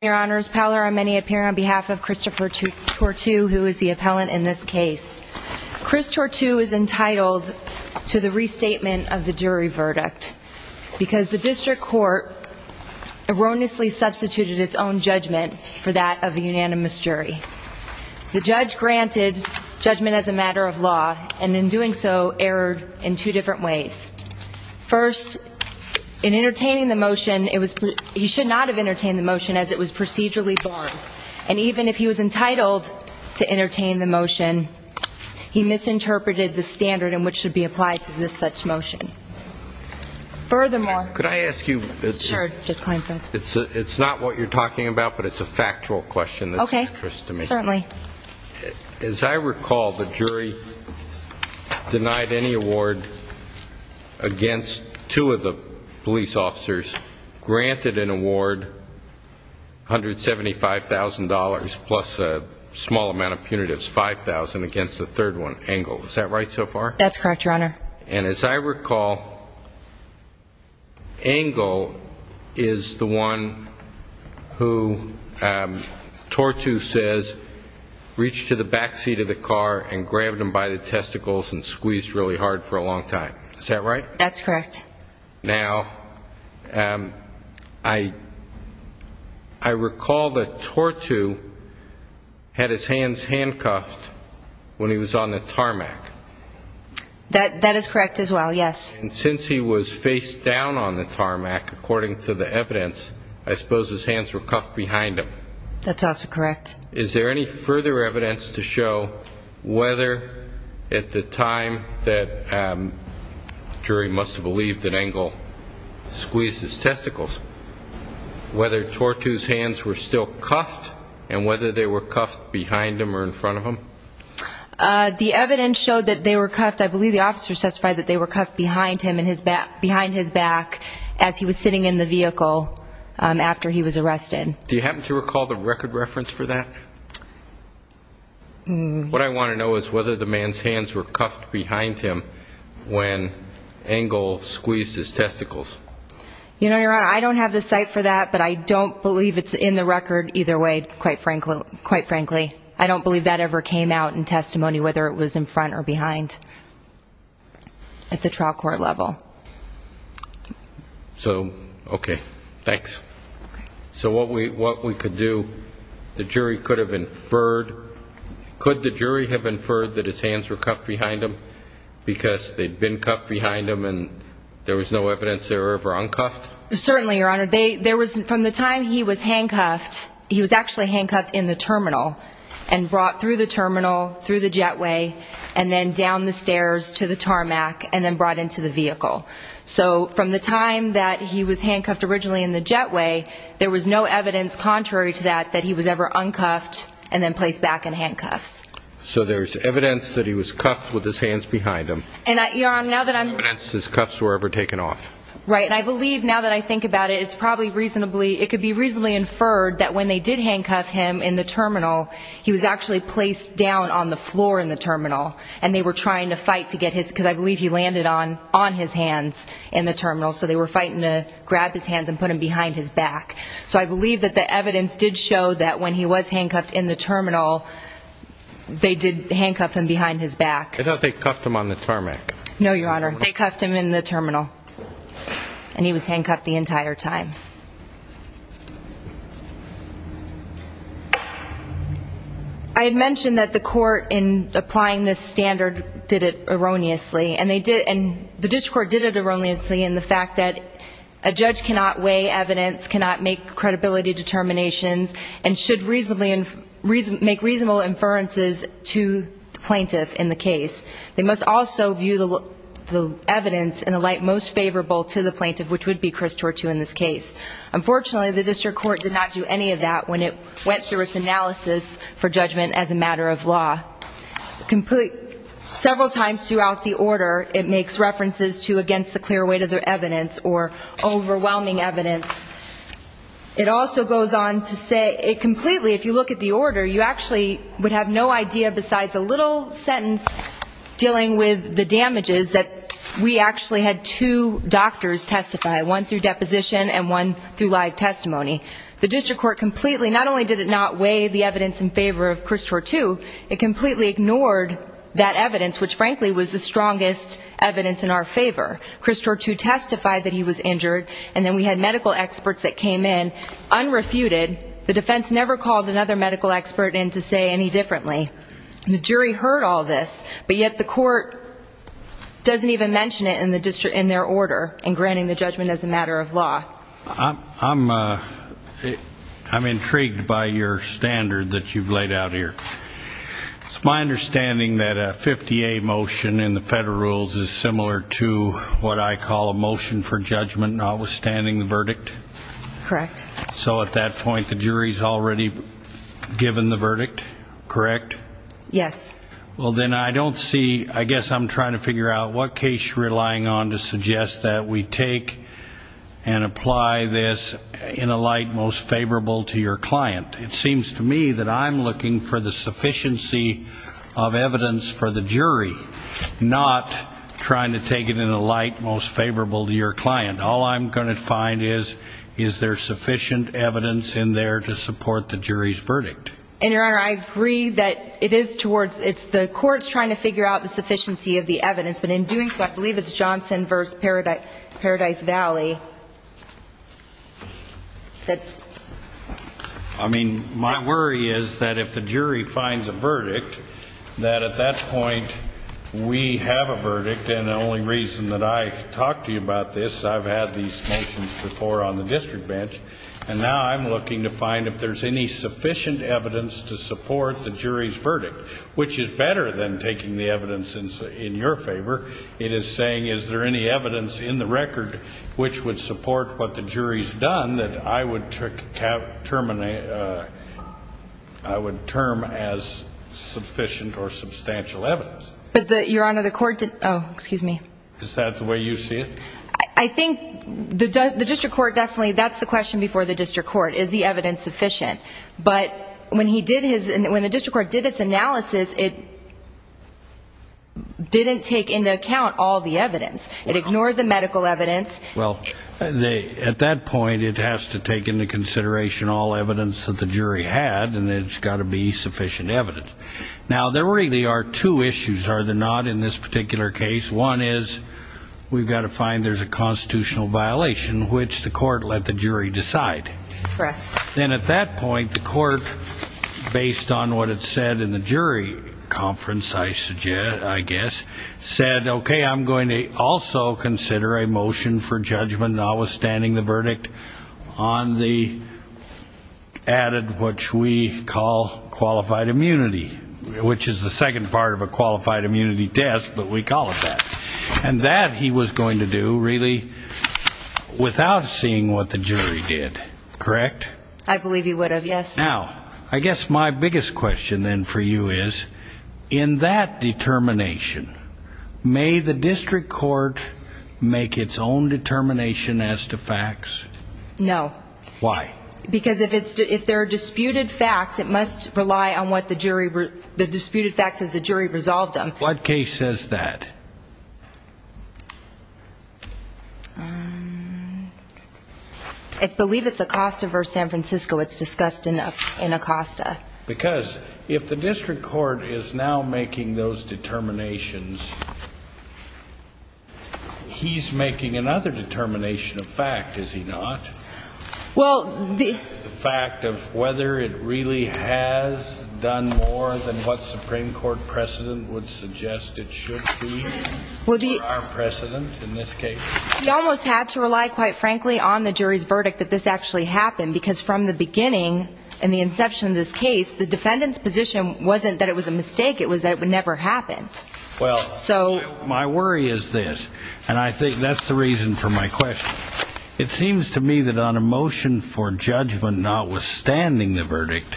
Your Honor, I'm Penny Appiah on behalf of Christopher Tortu, who is the appellant in this case. Chris Tortu is entitled to the restatement of the jury verdict, because the district court erroneously substituted its own judgment for that of the unanimous jury. The judge granted judgment as a matter of law, and in doing so, erred in two different ways. First, in entertaining the motion, he should not have entertained the motion as it was procedurally borne. And even if he was entitled to entertain the motion, he misinterpreted the standard in which it should be applied to this such motion. Furthermore... Could I ask you... Sure. It's not what you're talking about, but it's a factual question that's of interest to me. Okay. Certainly. As I recall, the jury denied any award against two of the police officers, granted an award, $175,000, plus a small amount of punitives, $5,000, against the third one, Engle. Is that right so far? That's correct, Your Honor. And as I recall, Engle is the one who Tortu says reached to the back seat of the car and grabbed him by the testicles and squeezed really hard for a long time. Is that right? That's correct. Now, I recall that Tortu had his hands handcuffed when he was on the tarmac. That is correct as well, yes. And since he was face down on the tarmac, according to the evidence, I suppose his hands were cuffed behind him. That's also correct. Is there any further evidence to show whether at the time that jury must have believed that Engle squeezed his testicles, whether Tortu's hands were still cuffed and whether they were cuffed behind him or in front of him? The evidence showed that they were cuffed. I believe the officer testified that they were cuffed behind his back as he was sitting in the vehicle after he was arrested. Do you happen to recall the record reference for that? What I want to know is whether the man's hands were cuffed behind him when Engle squeezed his testicles. Your Honor, I don't have the site for that, but I don't believe it's in the record either way, quite frankly. I don't believe that ever came out in testimony whether it was in front or behind at the trial court level. So, okay, thanks. So what we could do, the jury could have inferred, could the jury have inferred that his hands were cuffed behind him because they'd been cuffed behind him and there was no evidence they were ever uncuffed? Certainly, Your Honor. From the time he was handcuffed, he was actually handcuffed in the terminal and brought through the terminal, through the jetway, and then down the stairs to the tarmac and then brought into the vehicle. So from the time that he was handcuffed originally in the jetway, there was no evidence contrary to that that he was ever uncuffed and then placed back in handcuffs. So there's evidence that he was cuffed with his hands behind him. There's no evidence his cuffs were ever taken off. Right, and I believe now that I think about it, it's probably reasonably, it could be reasonably inferred that when they did handcuff him in the terminal, he was actually placed down on the floor in the terminal and they were trying to fight to get his, because I believe he landed on his hands in the terminal, so they were fighting to grab his hands and put him behind his back. So I believe that the evidence did show that when he was handcuffed in the terminal, they did handcuff him behind his back. I thought they cuffed him on the tarmac. No, Your Honor. They cuffed him in the terminal, and he was handcuffed the entire time. I had mentioned that the court in applying this standard did it erroneously, and the district court did it erroneously in the fact that a judge cannot weigh evidence, cannot make credibility determinations, and should make reasonable inferences to the plaintiff in the case. They must also view the evidence in the light most favorable to the plaintiff, which would be Chris Tortu in this case. Unfortunately, the district court did not do any of that when it went through its analysis for judgment as a matter of law. Several times throughout the order, it makes references to against the clear weight of the evidence or overwhelming evidence. It also goes on to say it completely, if you look at the order, you actually would have no idea besides a little sentence dealing with the damages that we actually had two doctors testify, one through deposition and one through live testimony. The district court completely, not only did it not weigh the evidence in favor of Chris Tortu, it completely ignored that evidence, which frankly was the strongest evidence in our favor. Chris Tortu testified that he was injured, and then we had medical experts that came in unrefuted. The defense never called another medical expert in to say any differently. The jury heard all this, but yet the court doesn't even mention it in their order in granting the judgment as a matter of law. I'm intrigued by your standard that you've laid out here. It's my understanding that a 50A motion in the federal rules is similar to what I call a motion for judgment notwithstanding the verdict. Correct. So at that point the jury's already given the verdict, correct? Yes. Well, then I don't see, I guess I'm trying to figure out what case you're relying on to suggest that we take and apply this in a light most favorable to your client. It seems to me that I'm looking for the sufficiency of evidence for the jury, not trying to take it in a light most favorable to your client. All I'm going to find is is there sufficient evidence in there to support the jury's verdict. And, Your Honor, I agree that it is towards the courts trying to figure out the sufficiency of the evidence, but in doing so I believe it's Johnson v. Paradise Valley. I mean, my worry is that if the jury finds a verdict, that at that point we have a verdict, and the only reason that I talk to you about this is I've had these motions before on the district bench, and now I'm looking to find if there's any sufficient evidence to support the jury's verdict, which is better than taking the evidence in your favor. It is saying is there any evidence in the record which would support what the jury's done that I would term as sufficient or substantial evidence. But, Your Honor, the court did ñ oh, excuse me. Is that the way you see it? I think the district court definitely ñ that's the question before the district court, is the evidence sufficient? But when the district court did its analysis, it didn't take into account all the evidence. It ignored the medical evidence. Well, at that point it has to take into consideration all evidence that the jury had, and it's got to be sufficient evidence. Now, there really are two issues, are there not, in this particular case. One is we've got to find there's a constitutional violation, which the court let the jury decide. Correct. Then at that point, the court, based on what it said in the jury conference, I guess, said, okay, I'm going to also consider a motion for judgment notwithstanding the verdict on the added, which we call qualified immunity, which is the second part of a qualified immunity test, but we call it that. And that he was going to do, really, without seeing what the jury did. Correct? I believe he would have, yes. Now, I guess my biggest question then for you is, in that determination, may the district court make its own determination as to facts? No. Why? Because if there are disputed facts, it must rely on the disputed facts as the jury resolved them. What case says that? I believe it's Acosta v. San Francisco. It's discussed in Acosta. Because if the district court is now making those determinations, he's making another determination of fact, is he not? Well, the ---- The fact of whether it really has done more than what Supreme Court precedent would suggest it should be for our precedent in this case. We almost had to rely, quite frankly, on the jury's verdict that this actually happened, because from the beginning and the inception of this case, the defendant's position wasn't that it was a mistake. It was that it never happened. Well, my worry is this, and I think that's the reason for my question. It seems to me that on a motion for judgment notwithstanding the verdict,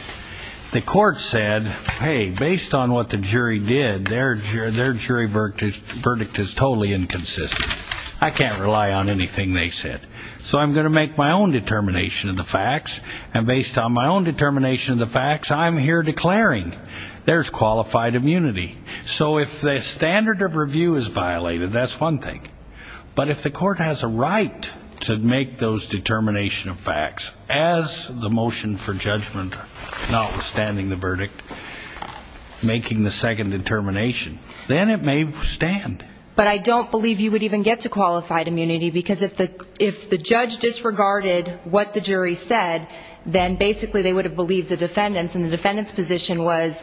the court said, hey, based on what the jury did, their jury verdict is totally inconsistent. I can't rely on anything they said. So I'm going to make my own determination of the facts, and based on my own determination of the facts, I'm here declaring there's qualified immunity. So if the standard of review is violated, that's one thing. But if the court has a right to make those determination of facts, as the motion for judgment notwithstanding the verdict, making the second determination, then it may stand. But I don't believe you would even get to qualified immunity, because if the judge disregarded what the jury said, then basically they would have believed the defendants, and the defendant's position was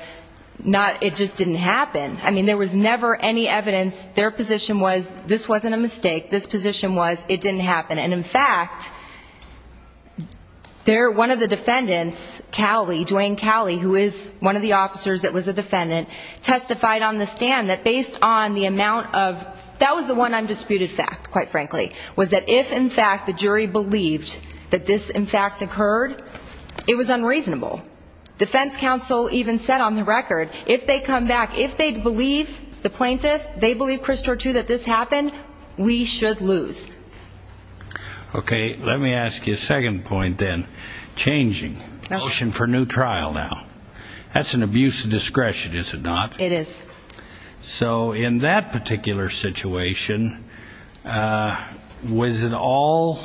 it just didn't happen. I mean, there was never any evidence. Their position was this wasn't a mistake. This position was it didn't happen. And, in fact, one of the defendants, Dwayne Cowley, who is one of the officers that was a defendant, testified on the stand that based on the amount of the one undisputed fact, quite frankly, was that if, in fact, the jury believed that this, in fact, occurred, it was unreasonable. Defense counsel even said on the record, if they come back, if they believe the plaintiff, they believe Chris Tortu that this happened, we should lose. Okay. Let me ask you a second point, then, changing. Motion for new trial now. That's an abuse of discretion, is it not? It is. So, in that particular situation, was it all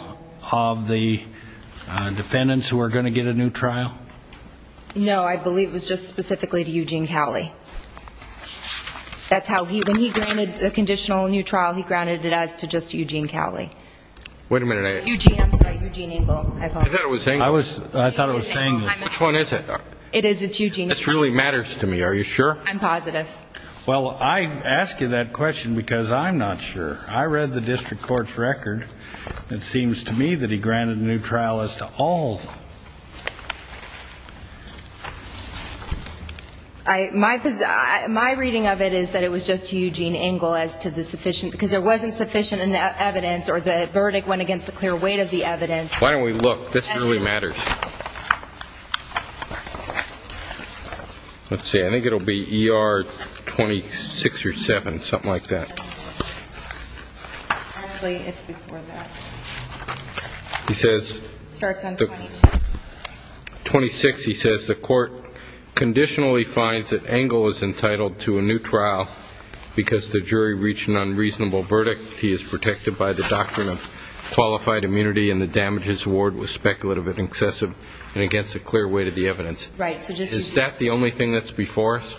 of the defendants who were going to get a new trial? No, I believe it was just specifically to Eugene Cowley. That's how he, when he granted a conditional new trial, he granted it as to just Eugene Cowley. Wait a minute. Eugene, I'm sorry, Eugene Engle, I apologize. I thought it was Engle. I thought it was Engle. Which one is it? It is. It's Eugene. This really matters to me. Are you sure? I'm positive. Well, I ask you that question because I'm not sure. I read the district court's record. It seems to me that he granted a new trial as to all. My reading of it is that it was just to Eugene Engle as to the sufficient, because there wasn't sufficient evidence or the verdict went against the clear weight of the evidence. Why don't we look? This really matters. Let's see. I think it will be ER 26 or 7, something like that. Actually, it's before that. It starts on 26. 26, he says, the court conditionally finds that Engle is entitled to a new trial because the jury reached an unreasonable verdict. He is protected by the doctrine of qualified immunity, and the damages award was speculative and excessive and against the clear weight of the evidence. Right. Is that the only thing that's before us?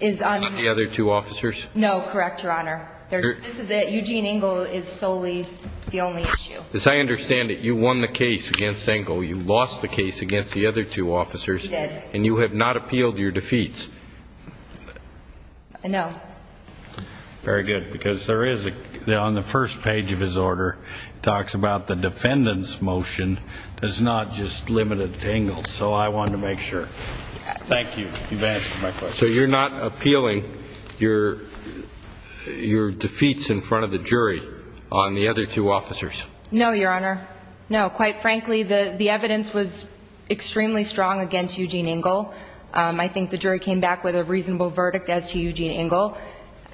Not the other two officers? No. Correct, Your Honor. This is it. Eugene Engle is solely the only issue. As I understand it, you won the case against Engle. You lost the case against the other two officers. We did. And you have not appealed your defeats. No. Very good, because there is, on the first page of his order, it talks about the defendant's motion is not just limited to Engle. So I wanted to make sure. Thank you. You've answered my question. So you're not appealing your defeats in front of the jury on the other two officers? No, Your Honor. No. Quite frankly, the evidence was extremely strong against Eugene Engle. I think the jury came back with a reasonable verdict as to Eugene Engle.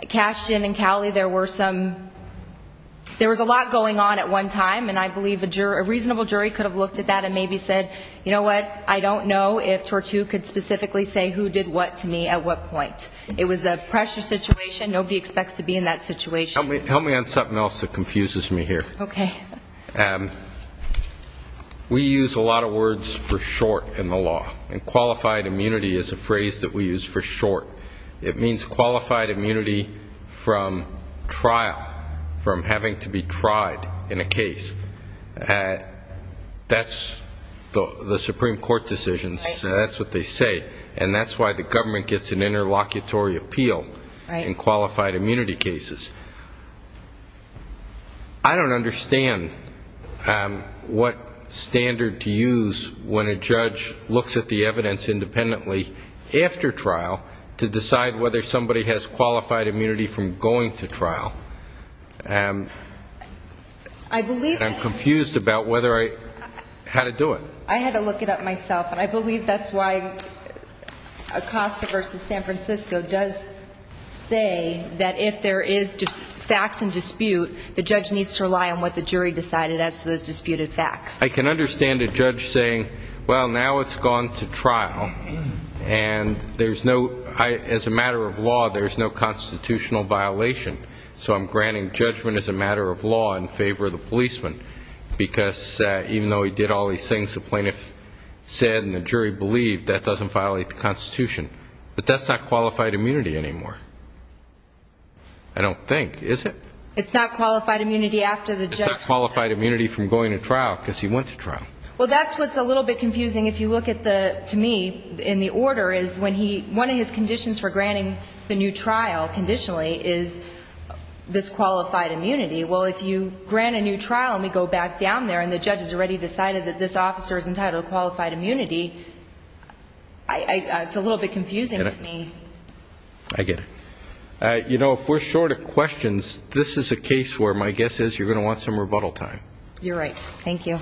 Cashton and Cowley, there was a lot going on at one time, and I believe a reasonable jury could have looked at that and maybe said, you know what, I don't know if Tortu could specifically say who did what to me at what point. It was a pressure situation. Nobody expects to be in that situation. Help me on something else that confuses me here. Okay. We use a lot of words for short in the law, and qualified immunity is a phrase that we use for short. It means qualified immunity from trial, from having to be tried in a case. That's the Supreme Court decisions. That's what they say, and that's why the government gets an interlocutory appeal in qualified immunity cases. I don't understand what standard to use when a judge looks at the evidence independently after trial to decide whether somebody has qualified immunity from going to trial. I'm confused about how to do it. I had to look it up myself, and I believe that's why Acosta v. San Francisco does say that if there is facts in dispute, the judge needs to rely on what the jury decided as to those disputed facts. I can understand a judge saying, well, now it's gone to trial, and as a matter of law, there's no constitutional violation, so I'm granting judgment as a matter of law in favor of the policeman, because even though he did all these things the plaintiff said and the jury believed, that doesn't violate the Constitution. But that's not qualified immunity anymore, I don't think, is it? It's not qualified immunity after the judge... It's not qualified immunity from going to trial because he went to trial. Well, that's what's a little bit confusing if you look at the, to me, in the order, is when he, one of his conditions for granting the new trial, conditionally, is this qualified immunity. Well, if you grant a new trial and we go back down there and the judge has already decided that this officer is entitled to qualified immunity, it's a little bit confusing to me. I get it. You know, if we're short of questions, this is a case where my guess is you're going to want some rebuttal time. You're right. Thank you.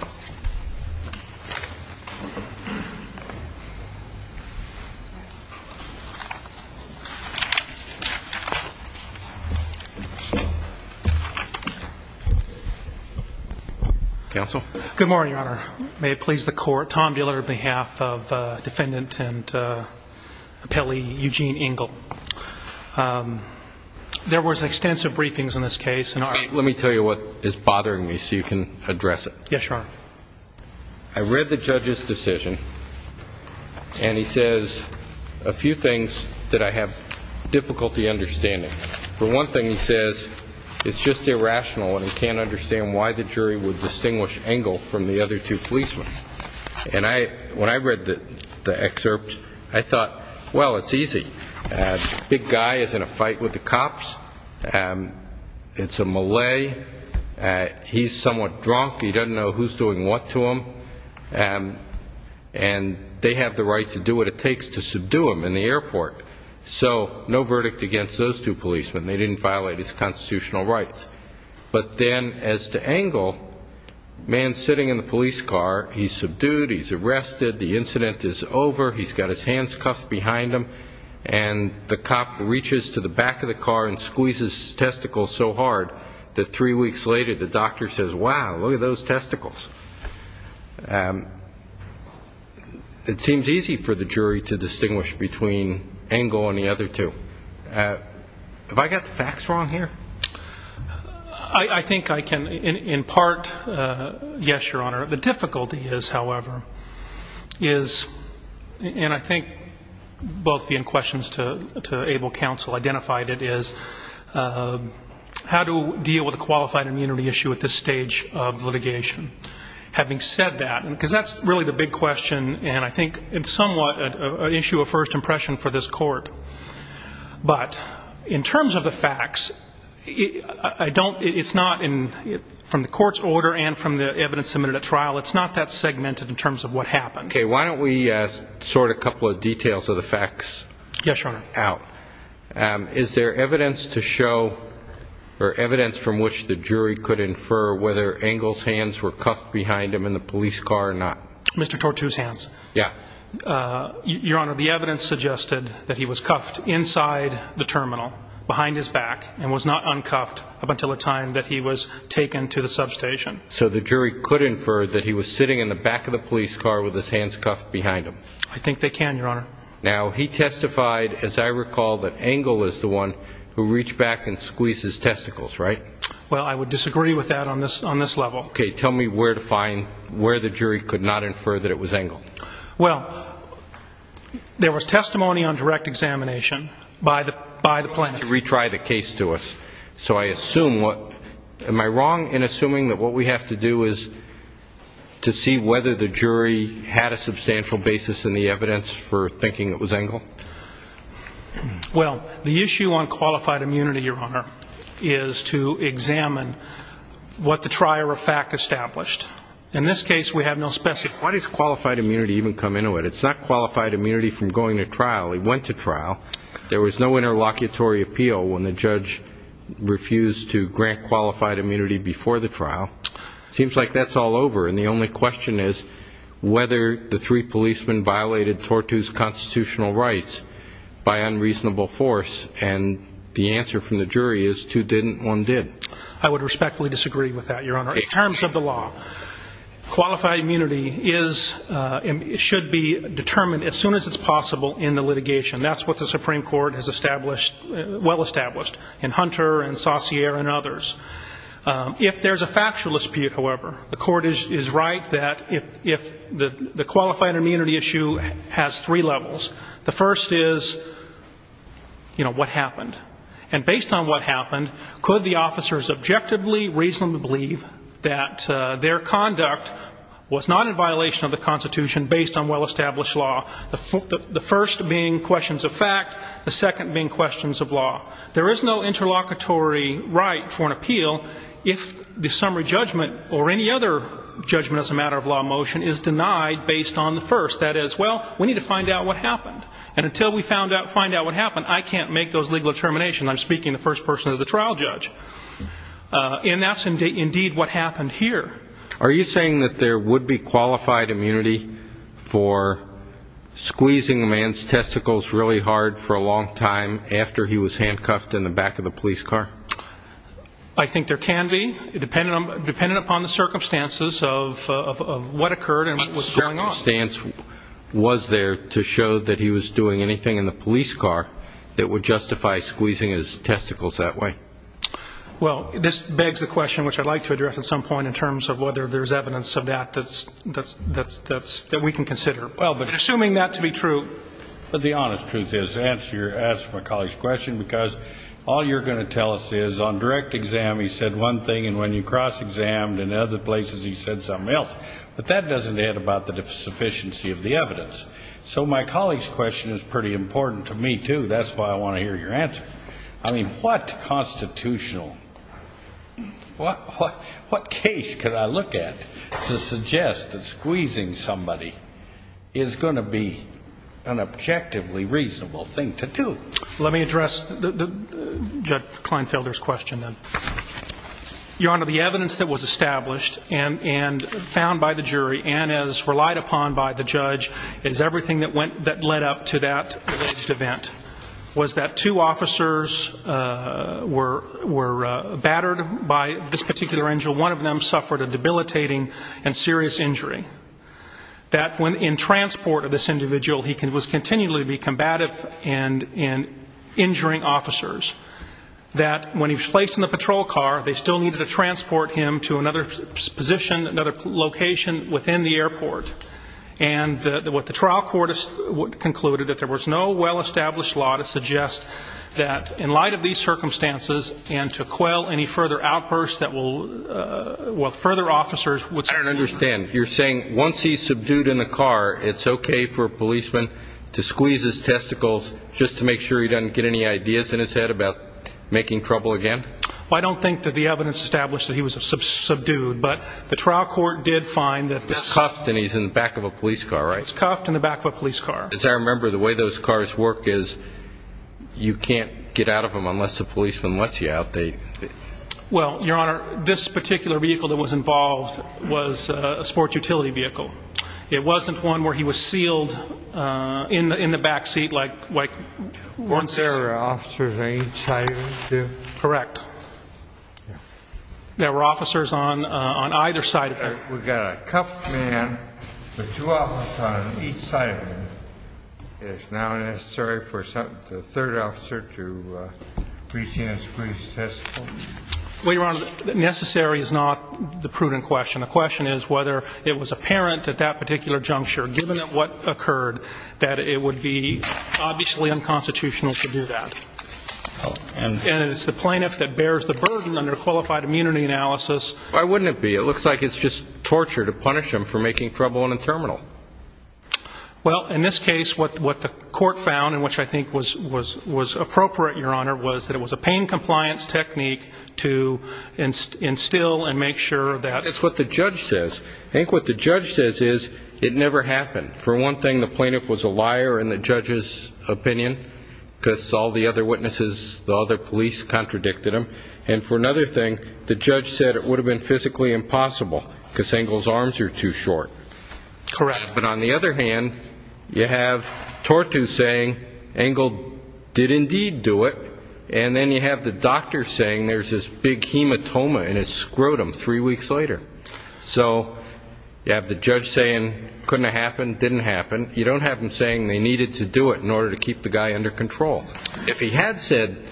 Counsel? Good morning, Your Honor. May it please the Court. Tom Buehler on behalf of Defendant and Appellee Eugene Engel. There was extensive briefings on this case. Let me tell you what is bothering me so you can address it. Yes, Your Honor. I read the judge's decision and he says a few things that I have difficulty understanding. For one thing, he says it's just irrational and he can't understand why the jury would distinguish Engel from the other two policemen. And when I read the excerpts, I thought, well, it's easy. A big guy is in a fight with the cops. It's a Malay. He's somewhat drunk. He doesn't know who's doing what to him. And they have the right to do what it takes to subdue him in the airport. So no verdict against those two policemen. They didn't violate his constitutional rights. But then as to Engel, man sitting in the police car, he's subdued, he's arrested, the incident is over, he's got his hands cuffed behind him, and the cop reaches to the back of the car and squeezes his testicles so hard that three weeks later the doctor says, wow, look at those testicles. It seems easy for the jury to distinguish between Engel and the other two. Have I got the facts wrong here? I think I can, in part, yes, Your Honor. The difficulty is, however, is, and I think both the questions to able counsel identified it, is how to deal with a qualified immunity issue at this stage of litigation. Having said that, because that's really the big question, and I think it's somewhat an issue of first impression for this court. But in terms of the facts, I don't, it's not, from the court's order and from the evidence submitted at trial, it's not that segmented in terms of what happened. Okay, why don't we sort a couple of details of the facts out. Yes, Your Honor. Is there evidence to show or evidence from which the jury could infer whether Engel's hands were cuffed behind him in the police car or not? Mr. Tortue's hands. Yeah. Your Honor, the evidence suggested that he was cuffed inside the terminal, behind his back, and was not uncuffed up until the time that he was taken to the substation. So the jury could infer that he was sitting in the back of the police car with his hands cuffed behind him. I think they can, Your Honor. Now, he testified, as I recall, that Engel is the one who reached back and squeezed his testicles, right? Well, I would disagree with that on this level. Okay, tell me where to find where the jury could not infer that it was Engel. Well, there was testimony on direct examination by the plaintiff. You retried the case to us. So I assume what, am I wrong in assuming that what we have to do is to see whether the jury had a substantial basis in the evidence for thinking it was Engel? Well, the issue on qualified immunity, Your Honor, is to examine what the trier of fact established. In this case, we have no specifics. Why does qualified immunity even come into it? It's not qualified immunity from going to trial. He went to trial. There was no interlocutory appeal when the judge refused to grant qualified immunity before the trial. It seems like that's all over. And the only question is whether the three policemen violated Tortu's constitutional rights by unreasonable force. And the answer from the jury is two didn't, one did. I would respectfully disagree with that, Your Honor. In terms of the law, qualified immunity should be determined as soon as it's possible in the litigation. That's what the Supreme Court has established, well established, in Hunter and Saussure and others. If there's a factual dispute, however, the court is right that if the qualified immunity issue has three levels. The first is, you know, what happened. And based on what happened, could the officers objectively, reasonably believe that their conduct was not in violation of the Constitution based on well-established law, the first being questions of fact, the second being questions of law. There is no interlocutory right for an appeal if the summary judgment or any other judgment as a matter of law motion is denied based on the first. That is, well, we need to find out what happened. And until we find out what happened, I can't make those legal determinations. I'm speaking in the first person of the trial judge. And that's indeed what happened here. Are you saying that there would be qualified immunity for squeezing a man's testicles really hard for a long time after he was handcuffed in the back of the police car? I think there can be, dependent upon the circumstances of what occurred and what was going on. What circumstance was there to show that he was doing anything in the police car that would justify squeezing his testicles that way? Well, this begs the question, which I'd like to address at some point, in terms of whether there's evidence of that that we can consider. Assuming that to be true. But the honest truth is, to answer my colleague's question, because all you're going to tell us is on direct exam he said one thing and when you cross-exam in other places he said something else. But that doesn't add about the sufficiency of the evidence. So my colleague's question is pretty important to me, too. That's why I want to hear your answer. I mean, what constitutional, what case could I look at to suggest that squeezing somebody is going to be an objectively reasonable thing to do? Let me address Judge Kleinfelder's question then. Your Honor, the evidence that was established and found by the jury and as relied upon by the judge is everything that led up to that event. It was that two officers were battered by this particular angel. One of them suffered a debilitating and serious injury. That in transport of this individual he was continually combative and injuring officers. That when he was placed in the patrol car, they still needed to transport him to another position, another location within the airport. And what the trial court concluded, that there was no well-established law to suggest that in light of these circumstances and to quell any further outbursts that will further officers. I don't understand. You're saying once he's subdued in the car it's okay for a policeman to squeeze his testicles just to make sure he doesn't get any ideas in his head about making trouble again? Well, I don't think that the evidence established that he was subdued, but the trial court did find that. He's cuffed and he's in the back of a police car, right? He's cuffed in the back of a police car. As I remember, the way those cars work is you can't get out of them unless the policeman lets you out. Well, Your Honor, this particular vehicle that was involved was a sports utility vehicle. It wasn't one where he was sealed in the back seat like once. There were officers inside of it too? Correct. There were officers on either side of it. We've got a cuffed man with two officers on each side of him. Is it now necessary for the third officer to reach in and squeeze his testicles? Well, Your Honor, necessary is not the prudent question. The question is whether it was apparent at that particular juncture, given what occurred, that it would be obviously unconstitutional to do that. And it's the plaintiff that bears the burden under qualified immunity analysis. Why wouldn't it be? It looks like it's just torture to punish them for making trouble in a terminal. Well, in this case, what the court found, and which I think was appropriate, Your Honor, was that it was a pain compliance technique to instill and make sure that... That's what the judge says. I think what the judge says is it never happened. For one thing, the plaintiff was a liar in the judge's opinion because all the other witnesses, the other police contradicted him. And for another thing, the judge said it would have been physically impossible because Engle's arms are too short. Correct. But on the other hand, you have Tortu saying Engle did indeed do it, and then you have the doctor saying there's this big hematoma in his scrotum three weeks later. So you have the judge saying couldn't have happened, didn't happen. You don't have him saying they needed to do it in order to keep the guy under control. If he had said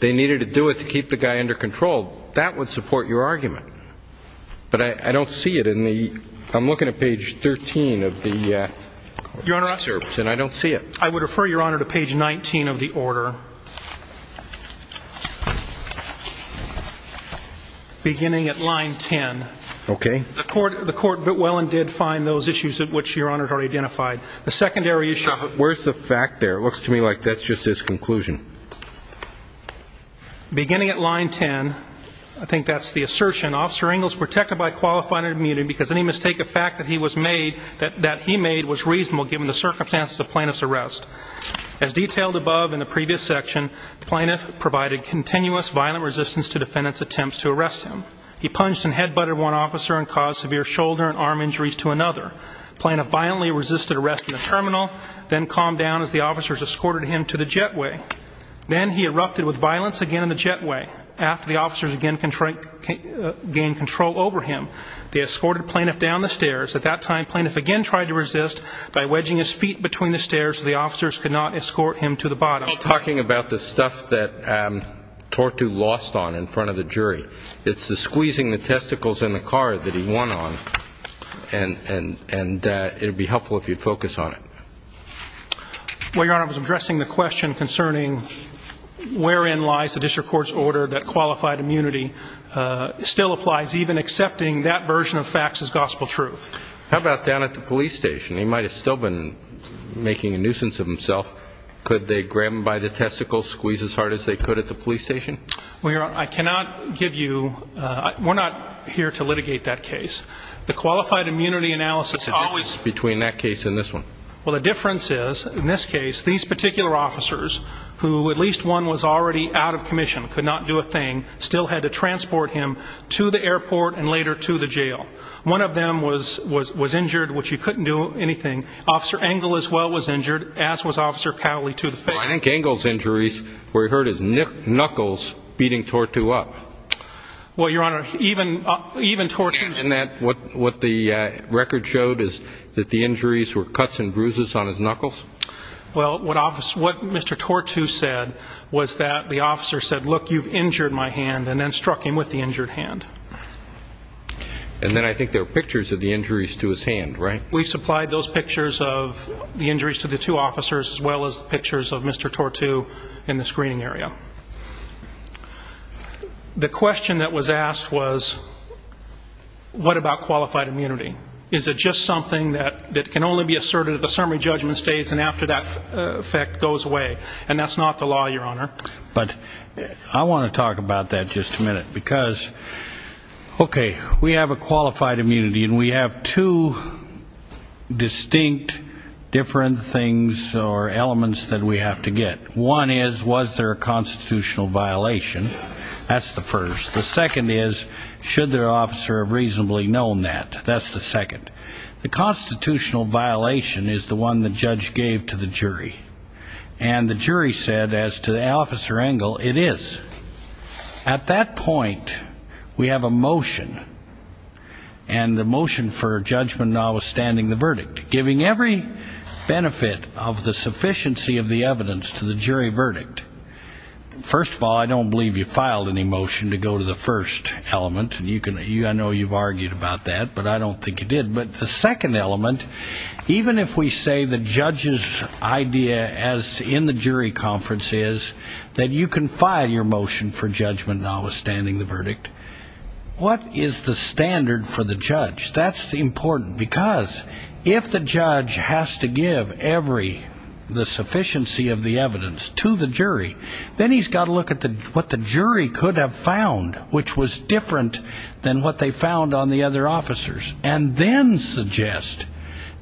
they needed to do it to keep the guy under control, that would support your argument. But I don't see it in the... I'm looking at page 13 of the... Your Honor... And I don't see it. I would refer, Your Honor, to page 19 of the order, beginning at line 10. Okay. The court bit well and did find those issues which Your Honor has already identified. The secondary issue... Where's the fact there? It looks to me like that's just his conclusion. Beginning at line 10, I think that's the assertion, Officer Engle is protected by qualifying immunity because any mistake of fact that he made was reasonable given the circumstances of the plaintiff's arrest. As detailed above in the previous section, the plaintiff provided continuous violent resistance to defendants' attempts to arrest him. He punched and head-butted one officer and caused severe shoulder and arm injuries to another. The plaintiff violently resisted arrest in the terminal, then calmed down as the officers escorted him to the jetway. Then he erupted with violence again in the jetway. After the officers again gained control over him, they escorted the plaintiff down the stairs. At that time, the plaintiff again tried to resist by wedging his feet between the stairs so the officers could not escort him to the bottom. I'm talking about the stuff that Tortu lost on in front of the jury. It's the squeezing the testicles in the car that he won on, and it would be helpful if you'd focus on it. Well, Your Honor, I was addressing the question concerning wherein lies the district court's order that qualified immunity still applies, even accepting that version of facts as gospel truth. How about down at the police station? He might have still been making a nuisance of himself. Could they grab him by the testicles, squeeze as hard as they could at the police station? Well, Your Honor, I cannot give youówe're not here to litigate that case. The qualified immunity analysisó What's the difference between that case and this one? Well, the difference is, in this case, these particular officers, who at least one was already out of commission, could not do a thing, still had to transport him to the airport and later to the jail. One of them was injured, which he couldn't do anything. Officer Engel, as well, was injured, as was Officer Cowley to the face. Well, I think Engel's injuries were he hurt his knuckles beating Tortue up. Well, Your Honor, even Tortueó And what the record showed is that the injuries were cuts and bruises on his knuckles? Well, what Mr. Tortue said was that the officer said, look, you've injured my hand, and then struck him with the injured hand. And then I think there are pictures of the injuries to his hand, right? And we supplied those pictures of the injuries to the two officers, as well as pictures of Mr. Tortue in the screening area. The question that was asked was, what about qualified immunity? Is it just something that can only be asserted at the summary judgment stage and after that effect goes away? And that's not the law, Your Honor. But I want to talk about that just a minute, because, okay, we have a qualified immunity, and we have two distinct different things or elements that we have to get. One is, was there a constitutional violation? That's the first. The second is, should the officer have reasonably known that? That's the second. The constitutional violation is the one the judge gave to the jury. And the jury said, as to Officer Engel, it is. At that point, we have a motion. And the motion for judgment now is standing the verdict, giving every benefit of the sufficiency of the evidence to the jury verdict. First of all, I don't believe you filed any motion to go to the first element. I know you've argued about that, but I don't think you did. But the second element, even if we say the judge's idea as in the jury conference is that you can file your motion for judgment now withstanding the verdict, what is the standard for the judge? That's important, because if the judge has to give every, the sufficiency of the evidence to the jury, then he's got to look at what the jury could have found, which was different than what they found on the other officers, and then suggest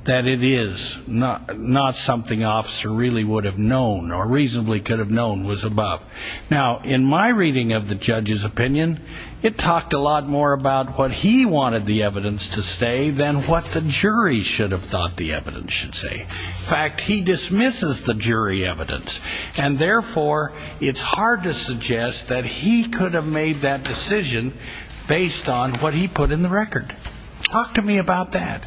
that it is not something an officer really would have known or reasonably could have known was above. Now, in my reading of the judge's opinion, it talked a lot more about what he wanted the evidence to say than what the jury should have thought the evidence should say. In fact, he dismisses the jury evidence, and therefore it's hard to suggest that he could have made that decision based on what he put in the record. Talk to me about that.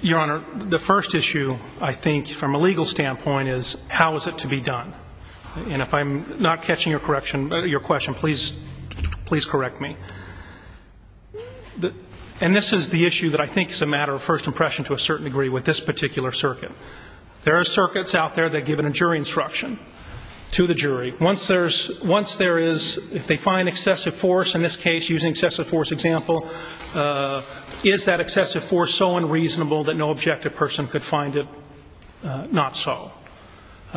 Your Honor, the first issue I think from a legal standpoint is how is it to be done? And if I'm not catching your question, please correct me. And this is the issue that I think is a matter of first impression to a certain degree with this particular circuit. There are circuits out there that give a jury instruction to the jury. Once there is, if they find excessive force, in this case using excessive force example, is that excessive force so unreasonable that no objective person could find it not so?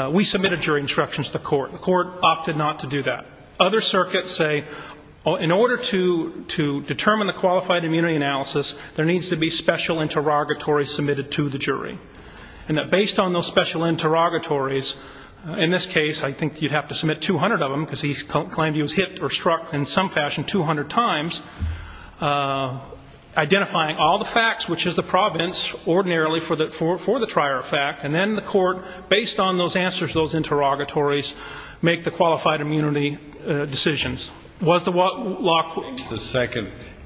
We submitted jury instructions to the court. The court opted not to do that. Other circuits say, in order to determine the qualified immunity analysis, there needs to be special interrogatories submitted to the jury. And that based on those special interrogatories, in this case, I think you'd have to submit 200 of them, because he claimed he was hit or struck in some fashion 200 times, identifying all the facts, which is the providence ordinarily for the trier fact, and then the court, based on those answers to those interrogatories, make the qualified immunity decisions. Was the law quick?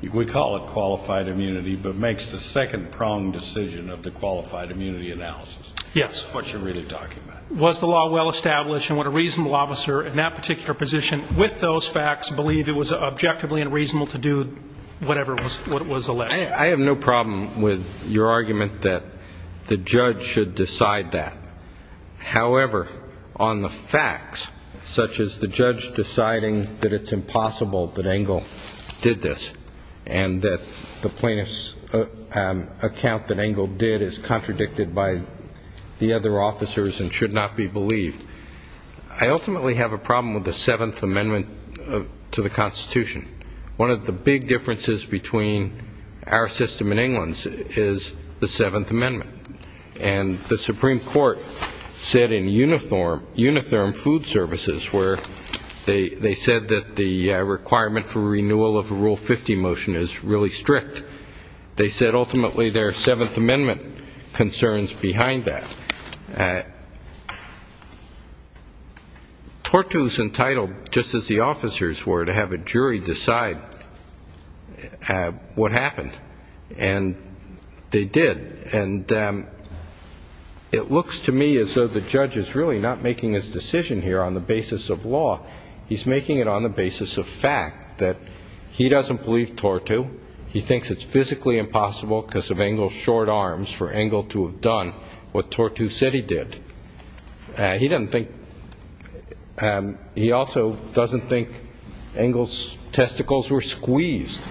We call it qualified immunity, but it makes the second-pronged decision of the qualified immunity analysis. Yes. That's what you're really talking about. Was the law well established, and would a reasonable officer in that particular position, with those facts, believe it was objectively unreasonable to do whatever was alleged? I have no problem with your argument that the judge should decide that. However, on the facts, such as the judge deciding that it's impossible that Engle did this and that the plaintiff's account that Engle did is contradicted by the other officers and should not be believed, I ultimately have a problem with the Seventh Amendment to the Constitution. One of the big differences between our system and England's is the Seventh Amendment. And the Supreme Court said in Unitherm Food Services, where they said that the requirement for renewal of a Rule 50 motion is really strict, they said ultimately there are Seventh Amendment concerns behind that. Tortu is entitled, just as the officers were, to have a jury decide what happened, and they did. And it looks to me as though the judge is really not making his decision here on the basis of law. He's making it on the basis of fact, that he doesn't believe Tortu. He thinks it's physically impossible because of Engle's short arms for Engle to have done what Tortu said he did. He doesn't think, he also doesn't think Engle's testicles were squeezed,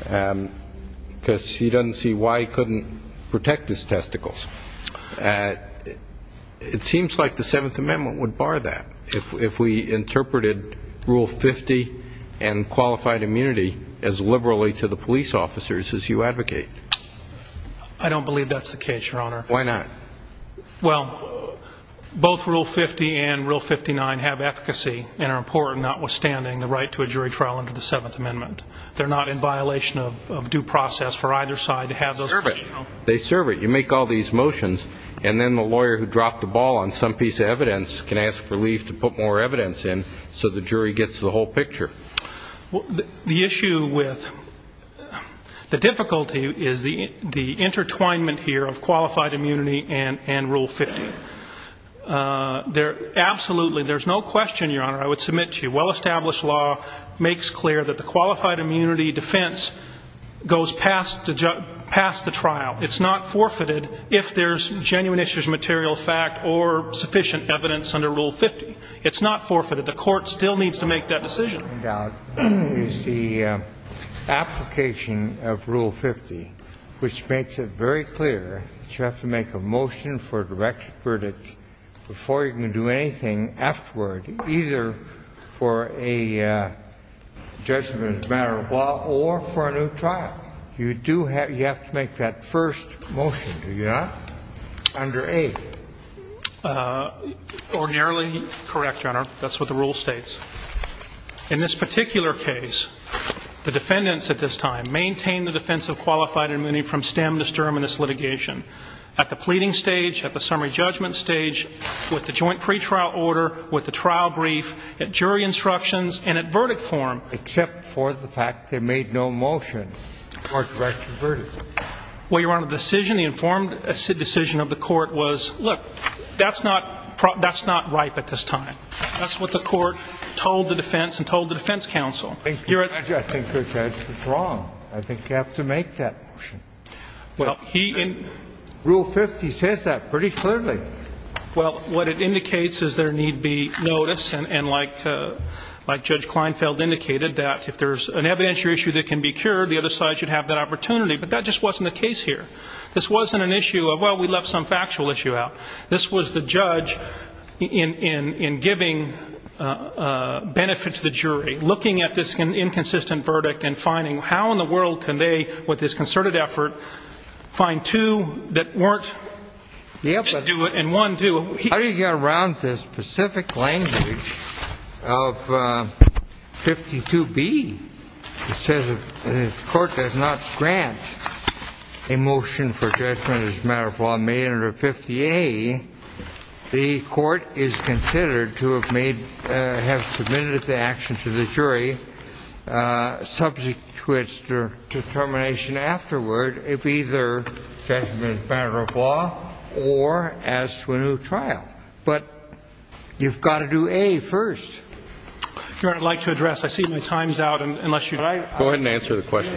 because he doesn't see why he couldn't protect his testicles. It seems like the Seventh Amendment would bar that if we interpreted Rule 50 and qualified immunity as liberally to the police officers as you advocate. I don't believe that's the case, Your Honor. Why not? Well, both Rule 50 and Rule 59 have efficacy and are important, notwithstanding the right to a jury trial under the Seventh Amendment. They're not in violation of due process for either side to have those. They serve it. You make all these motions, and then the lawyer who dropped the ball on some piece of evidence can ask for leave to put more evidence in, so the jury gets the whole picture. The issue with the difficulty is the intertwinement here of qualified immunity and legal liability. Absolutely, there's no question, Your Honor, I would submit to you, well-established law makes clear that the qualified immunity defense goes past the trial. It's not forfeited if there's genuine issues, material fact, or sufficient evidence under Rule 50. It's not forfeited. The court still needs to make that decision. Well, I think what you're pointing out is the application of Rule 50, which makes it very clear that you have to make a motion for a direct verdict before you can do anything afterward, either for a judgment as a matter of law or for a new trial. You have to make that first motion, do you not? Under 8. Ordinarily correct, Your Honor. That's what the rule states. In this particular case, the defendants at this time maintained the defense of qualified immunity from stem to sturm in this litigation. At the pleading stage, at the summary judgment stage, with the joint pretrial order, with the trial brief, at jury instructions, and at verdict form. Except for the fact they made no motion for a direct verdict. Well, Your Honor, the decision, the informed decision of the court was, look, that's not ripe at this time. That's what the court told the defense and told the defense counsel. I think you have to make that motion. Rule 50 says that pretty clearly. Well, what it indicates is there need be notice, and like Judge Kleinfeld indicated, that if there's an evidentiary issue that can be cured, the other side should have that opportunity. But that just wasn't the case here. This wasn't an issue of, well, we left some factual issue out. This was the judge, in giving benefit to the jury, looking at this inconsistent verdict and finding how in the world can they, with this concerted effort, find two that weren't able to do it, and how do you get around this specific language of 52B? It says the court does not grant a motion for judgment as a matter of law made under 50A. The court is considered to have made, have submitted the action to the jury, subject to its determination afterward, if either judgment is a matter of law, or as to a new trial. But you've got to do A first. Your Honor, I'd like to address, I see my time's out, unless you'd like... Go ahead and answer the question.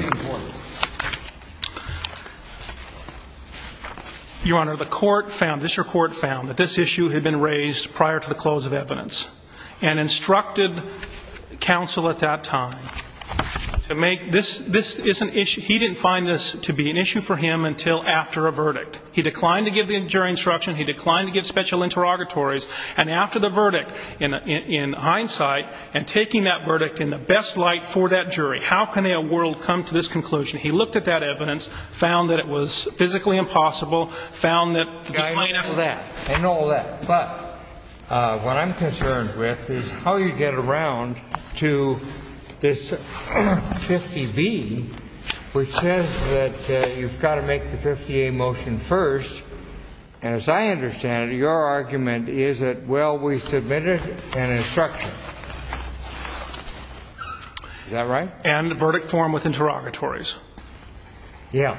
Your Honor, the court found, this court found, that this issue had been raised prior to the close of evidence, and instructed counsel at that time to make, this is an issue, he didn't find this to be an issue for him until after a verdict. He declined to give the jury instruction, he declined to give special interrogatories, and after the verdict, in hindsight, and taking that verdict in the best light for that jury, how can a world come to this conclusion? He looked at that evidence, found that it was physically impossible, found that... I know all that, but what I'm concerned with is how you get around to this 50B, which says that you've got to make the 50A motion first, and as I understand it, your argument is that, well, we submitted an instruction. Is that right? And a verdict form with interrogatories. Yeah.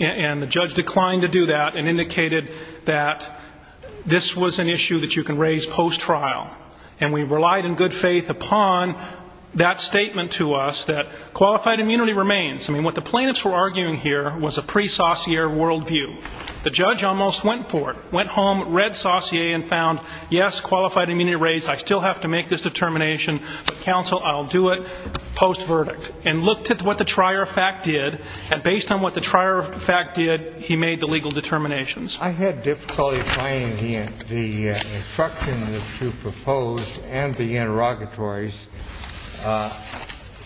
And the judge declined to do that, and indicated that this was an issue that you can raise post-trial. And we relied in good faith upon that statement to us, that qualified immunity remains. I mean, what the plaintiffs were arguing here was a pre-saucier worldview. The judge almost went for it, went home, read saucier, and found, yes, qualified immunity raised, I still have to make this determination, but counsel, I'll do it post-verdict. And looked at what the trier of fact did, and based on what the trier of fact did, he made the legal determinations. I had difficulty finding the instructions that you proposed and the interrogatories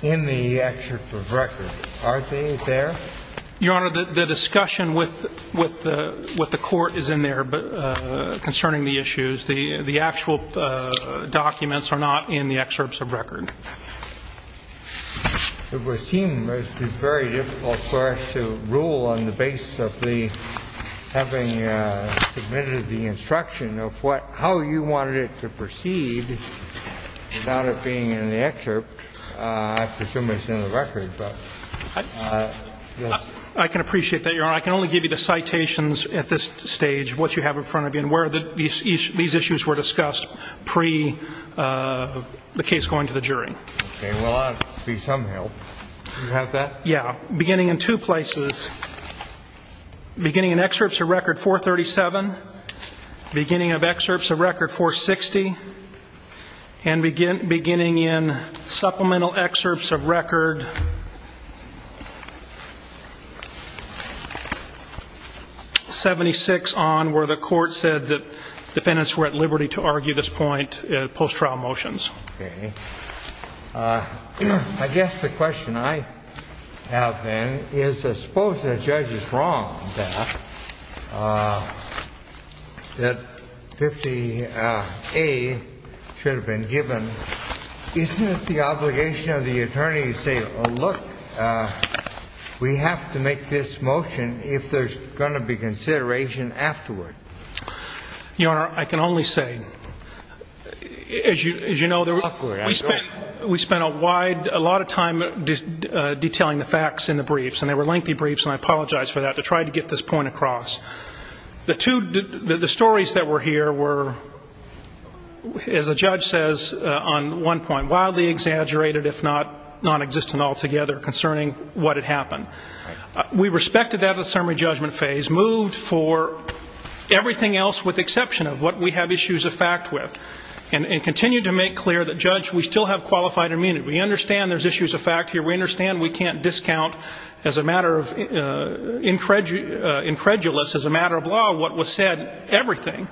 in the excerpts of record. Are they there? Your Honor, the discussion with the court is in there concerning the issues. The actual documents are not in the excerpts of record. It would seem it would be very difficult for us to rule on the basis of having submitted the instruction of how you wanted it to proceed without it being in the excerpt. I presume it's in the record. I can appreciate that, Your Honor. I can only give you the citations at this stage, what you have in front of you, and where these issues were discussed pre-the case going to the jury. Okay. Well, that would be some help. Do you have that? Yeah. Beginning in two places. Beginning in excerpts of record 437, beginning of excerpts of record 460, and beginning in supplemental excerpts of record 76 on where the court said that defendants were at liberty to argue this point post-trial motions. Okay. I guess the question I have, then, is I suppose the judge is wrong that 50A should have been given. Isn't it the obligation of the attorney to say, look, we have to make this motion if there's going to be consideration afterward? Your Honor, I can only say, as you know, we spent a lot of time detailing the facts in the briefs, and they were lengthy briefs, and I apologize for that, to try to get this point across. The stories that were here were, as the judge says on one point, wildly exaggerated, if not nonexistent altogether concerning what had happened. We respected that at the summary judgment phase, moved for everything else with exception of what we have issues of fact with, and continued to make clear that, judge, we still have qualified immunity. We understand there's issues of fact here. We understand we can't discount as a matter of incredulous, as a matter of law, what was said, everything,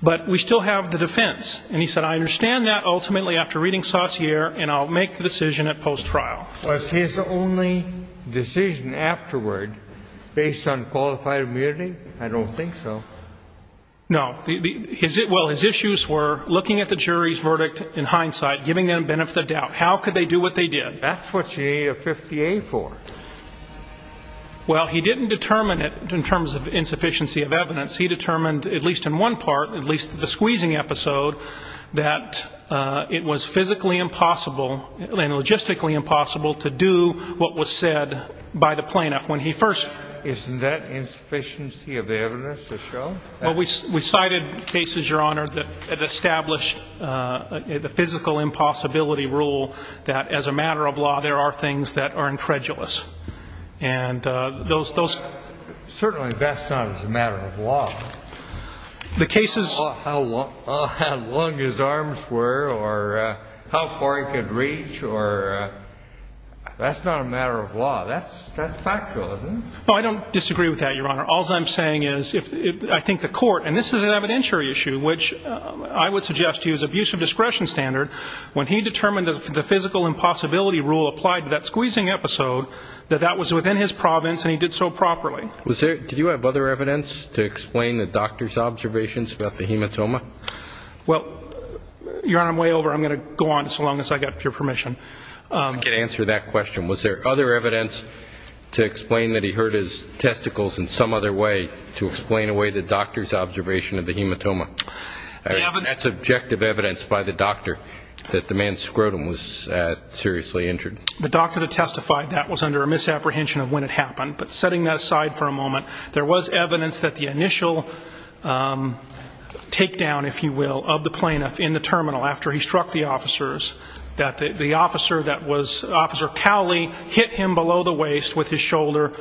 but we still have the defense. And he said, I understand that ultimately after reading Saussure, and I'll make the decision at post-trial. Was his only decision afterward based on qualified immunity? I don't think so. No. Well, his issues were looking at the jury's verdict in hindsight, giving them the benefit of the doubt. How could they do what they did? That's what you need a 50-A for. Well, he didn't determine it in terms of insufficiency of evidence. He determined, at least in one part, at least the squeezing episode, that it was physically impossible and logistically impossible to get a 50-A. It was physically impossible to do what was said by the plaintiff when he first... Isn't that insufficiency of evidence to show? Well, we cited cases, Your Honor, that established the physical impossibility rule that, as a matter of law, there are things that are incredulous. Certainly that's not as a matter of law. How long his arms were or how far he could reach, that's not a matter of law. That's factual, isn't it? No, I don't disagree with that, Your Honor. All I'm saying is, I think the court, and this is an evidentiary issue, which I would suggest to you is abuse of discretion standard. When he determined that the physical impossibility rule applied to that squeezing episode, that that was within his province and he did so properly. Did you have other evidence to explain the doctor's observations about the hematoma? Well, Your Honor, I'm way over. I'm going to go on so long as I get your permission. I can answer that question. Was there other evidence to explain that he hurt his testicles in some other way to explain away the doctor's observation of the hematoma? That's objective evidence by the doctor that the man's scrotum was seriously injured. The doctor that testified that was under a misapprehension of when it happened. But setting that aside for a moment, there was evidence that the initial takedown, if you will, of the plaintiff in the terminal after he struck the officers, that the officer that was Officer Cowley hit him below the waist with his shoulder,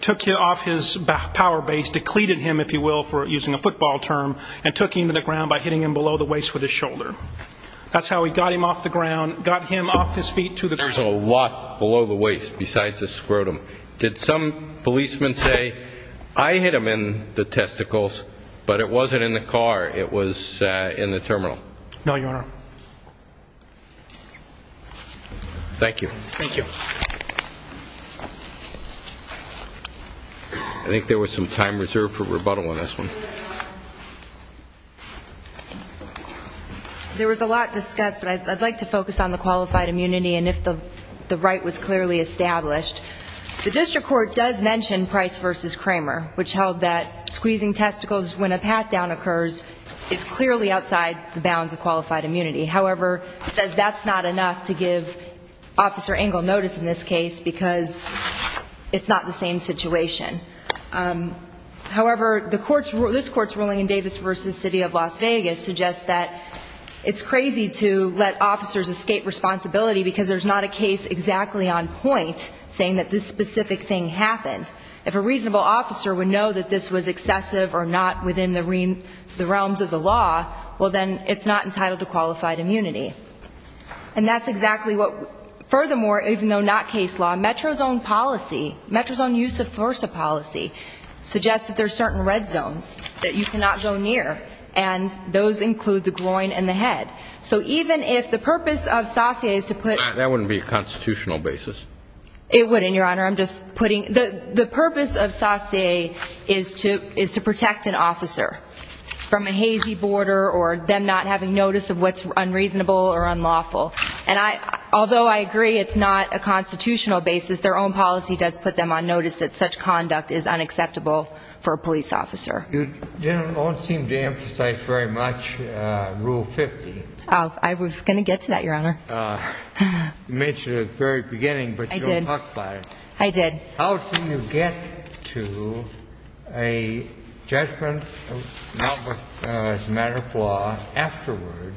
took him off his power base, decleded him, if you will, for using a football term, and took him to the ground by hitting him below the waist with his shoulder. That's how he got him off the ground, got him off his feet to the ground. There's a lot below the waist besides the scrotum. Did some policeman say, I hit him in the testicles, but it wasn't in the car, it was in the terminal? No, Your Honor. Thank you. I think there was some time reserved for rebuttal on this one. There was a lot discussed, but I'd like to focus on the qualified immunity and if the right was clearly established. The district court does mention Price v. Kramer, which held that squeezing testicles when a pat-down occurs is clearly outside the bounds of qualified immunity. However, it says that's not enough to give Officer Engel notice in this case because it's not the same situation. However, this Court's ruling in Davis v. City of Las Vegas suggests that it's crazy to let officers escape responsibility because there's not a case exactly on point saying that this specific thing happened. If a reasonable officer would know that this was excessive or not within the realms of the law, well, then it's not entitled to qualified immunity. And that's exactly what, furthermore, even though not case law, Metro's own policy, Metro's own use-of-force policy, suggests that there's certain red zones that you cannot go near, and those include the groin and the head. So even if the purpose of saucier is to put... That wouldn't be a constitutional basis. It wouldn't, Your Honor. I'm just putting... The purpose of saucier is to protect an officer from a hazy border or them not having notice of what's unreasonable or unlawful. And although I agree it's not a constitutional basis, their own policy does put them on notice that such conduct is unacceptable for a police officer. You don't seem to emphasize very much Rule 50. I was going to get to that, Your Honor. You mentioned it at the very beginning, but you didn't talk about it. I did. How do you get to a judgment as a matter of law afterward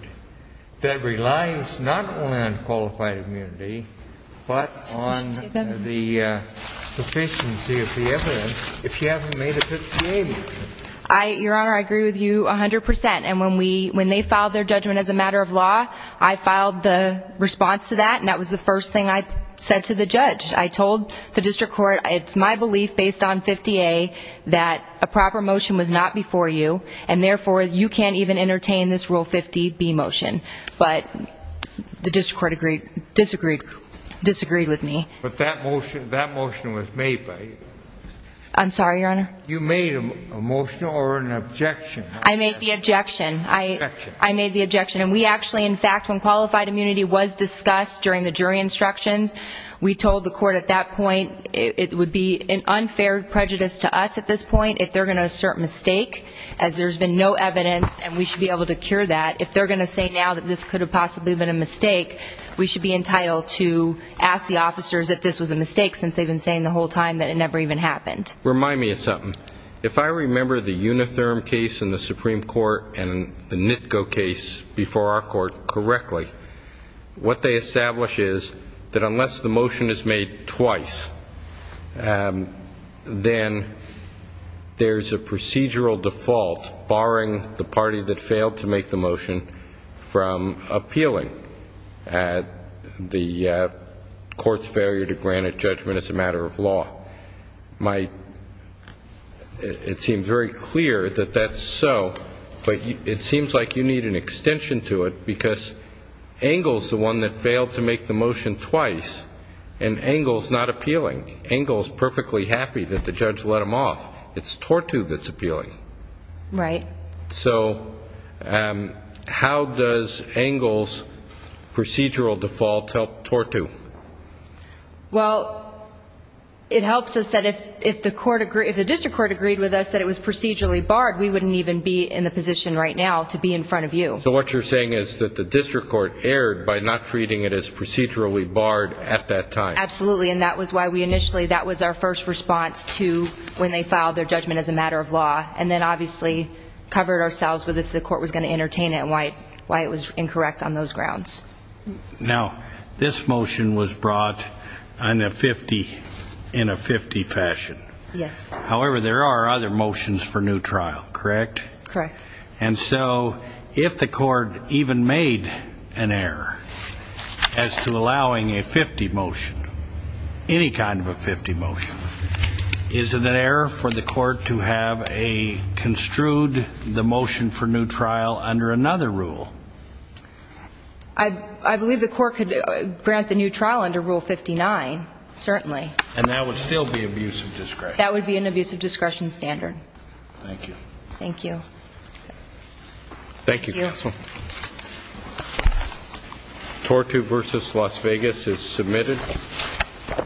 that relies not only on qualified immunity, but on the sufficiency of the evidence if you haven't made a 50-80 decision? Your Honor, I agree with you 100%. And when they filed their judgment as a matter of law, I filed the response to that, and that was the first thing I said to the judge. I told the district court, it's my belief, based on 50-A, that a proper motion was not before you, and therefore you can't even entertain this Rule 50-B motion. But the district court disagreed with me. But that motion was made by you. I'm sorry, Your Honor? You made a motion or an objection. I made the objection, and we actually, in fact, when qualified immunity was discussed during the jury instructions, we told the court at that point it would be an unfair prejudice to us at this point if they're going to assert mistake as there's been no evidence and we should be able to cure that. If they're going to say now that this could have possibly been a mistake, we should be entitled to ask the officers if this was a mistake since they've been saying the whole time that it never even happened. Remind me of something. If I remember the Unitherm case in the Supreme Court and the NITCO case before our court correctly, what they establish is that unless the motion is made twice, then there's a procedural default, barring the party that failed to make the motion, and there's a procedural default. And if the motion is made twice, then there's a procedural default, barring the party that failed to make the motion from appealing the court's failure to grant a judgment as a matter of law. It seems very clear that that's so, but it seems like you need an extension to it because Engle's the one that failed to make the motion twice, and Engle's not appealing. Engle's perfectly happy that the judge let him off. It's Tortu that's appealing. So how does Engle's procedural default help Tortu? Well, it helps us that if the district court agreed with us that it was procedurally barred, we wouldn't even be in the position right now to be in front of you. So what you're saying is that the district court erred by not treating it as procedurally barred at that time. Absolutely, and that was why we initially, that was our first response to when they filed their judgment as a matter of law, and then obviously covered ourselves with if the court was going to entertain it and why it was incorrect on those grounds. Now, this motion was brought in a 50-50 fashion. However, there are other motions for new trial, correct? Correct. And so if the court even made an error as to allowing a 50 motion, any kind of a 50 motion, is it an error for the court to have construed the motion for new trial under another rule? I believe the court could grant the new trial under Rule 59, certainly. And that would still be abuse of discretion? That would be an abuse of discretion standard. Thank you.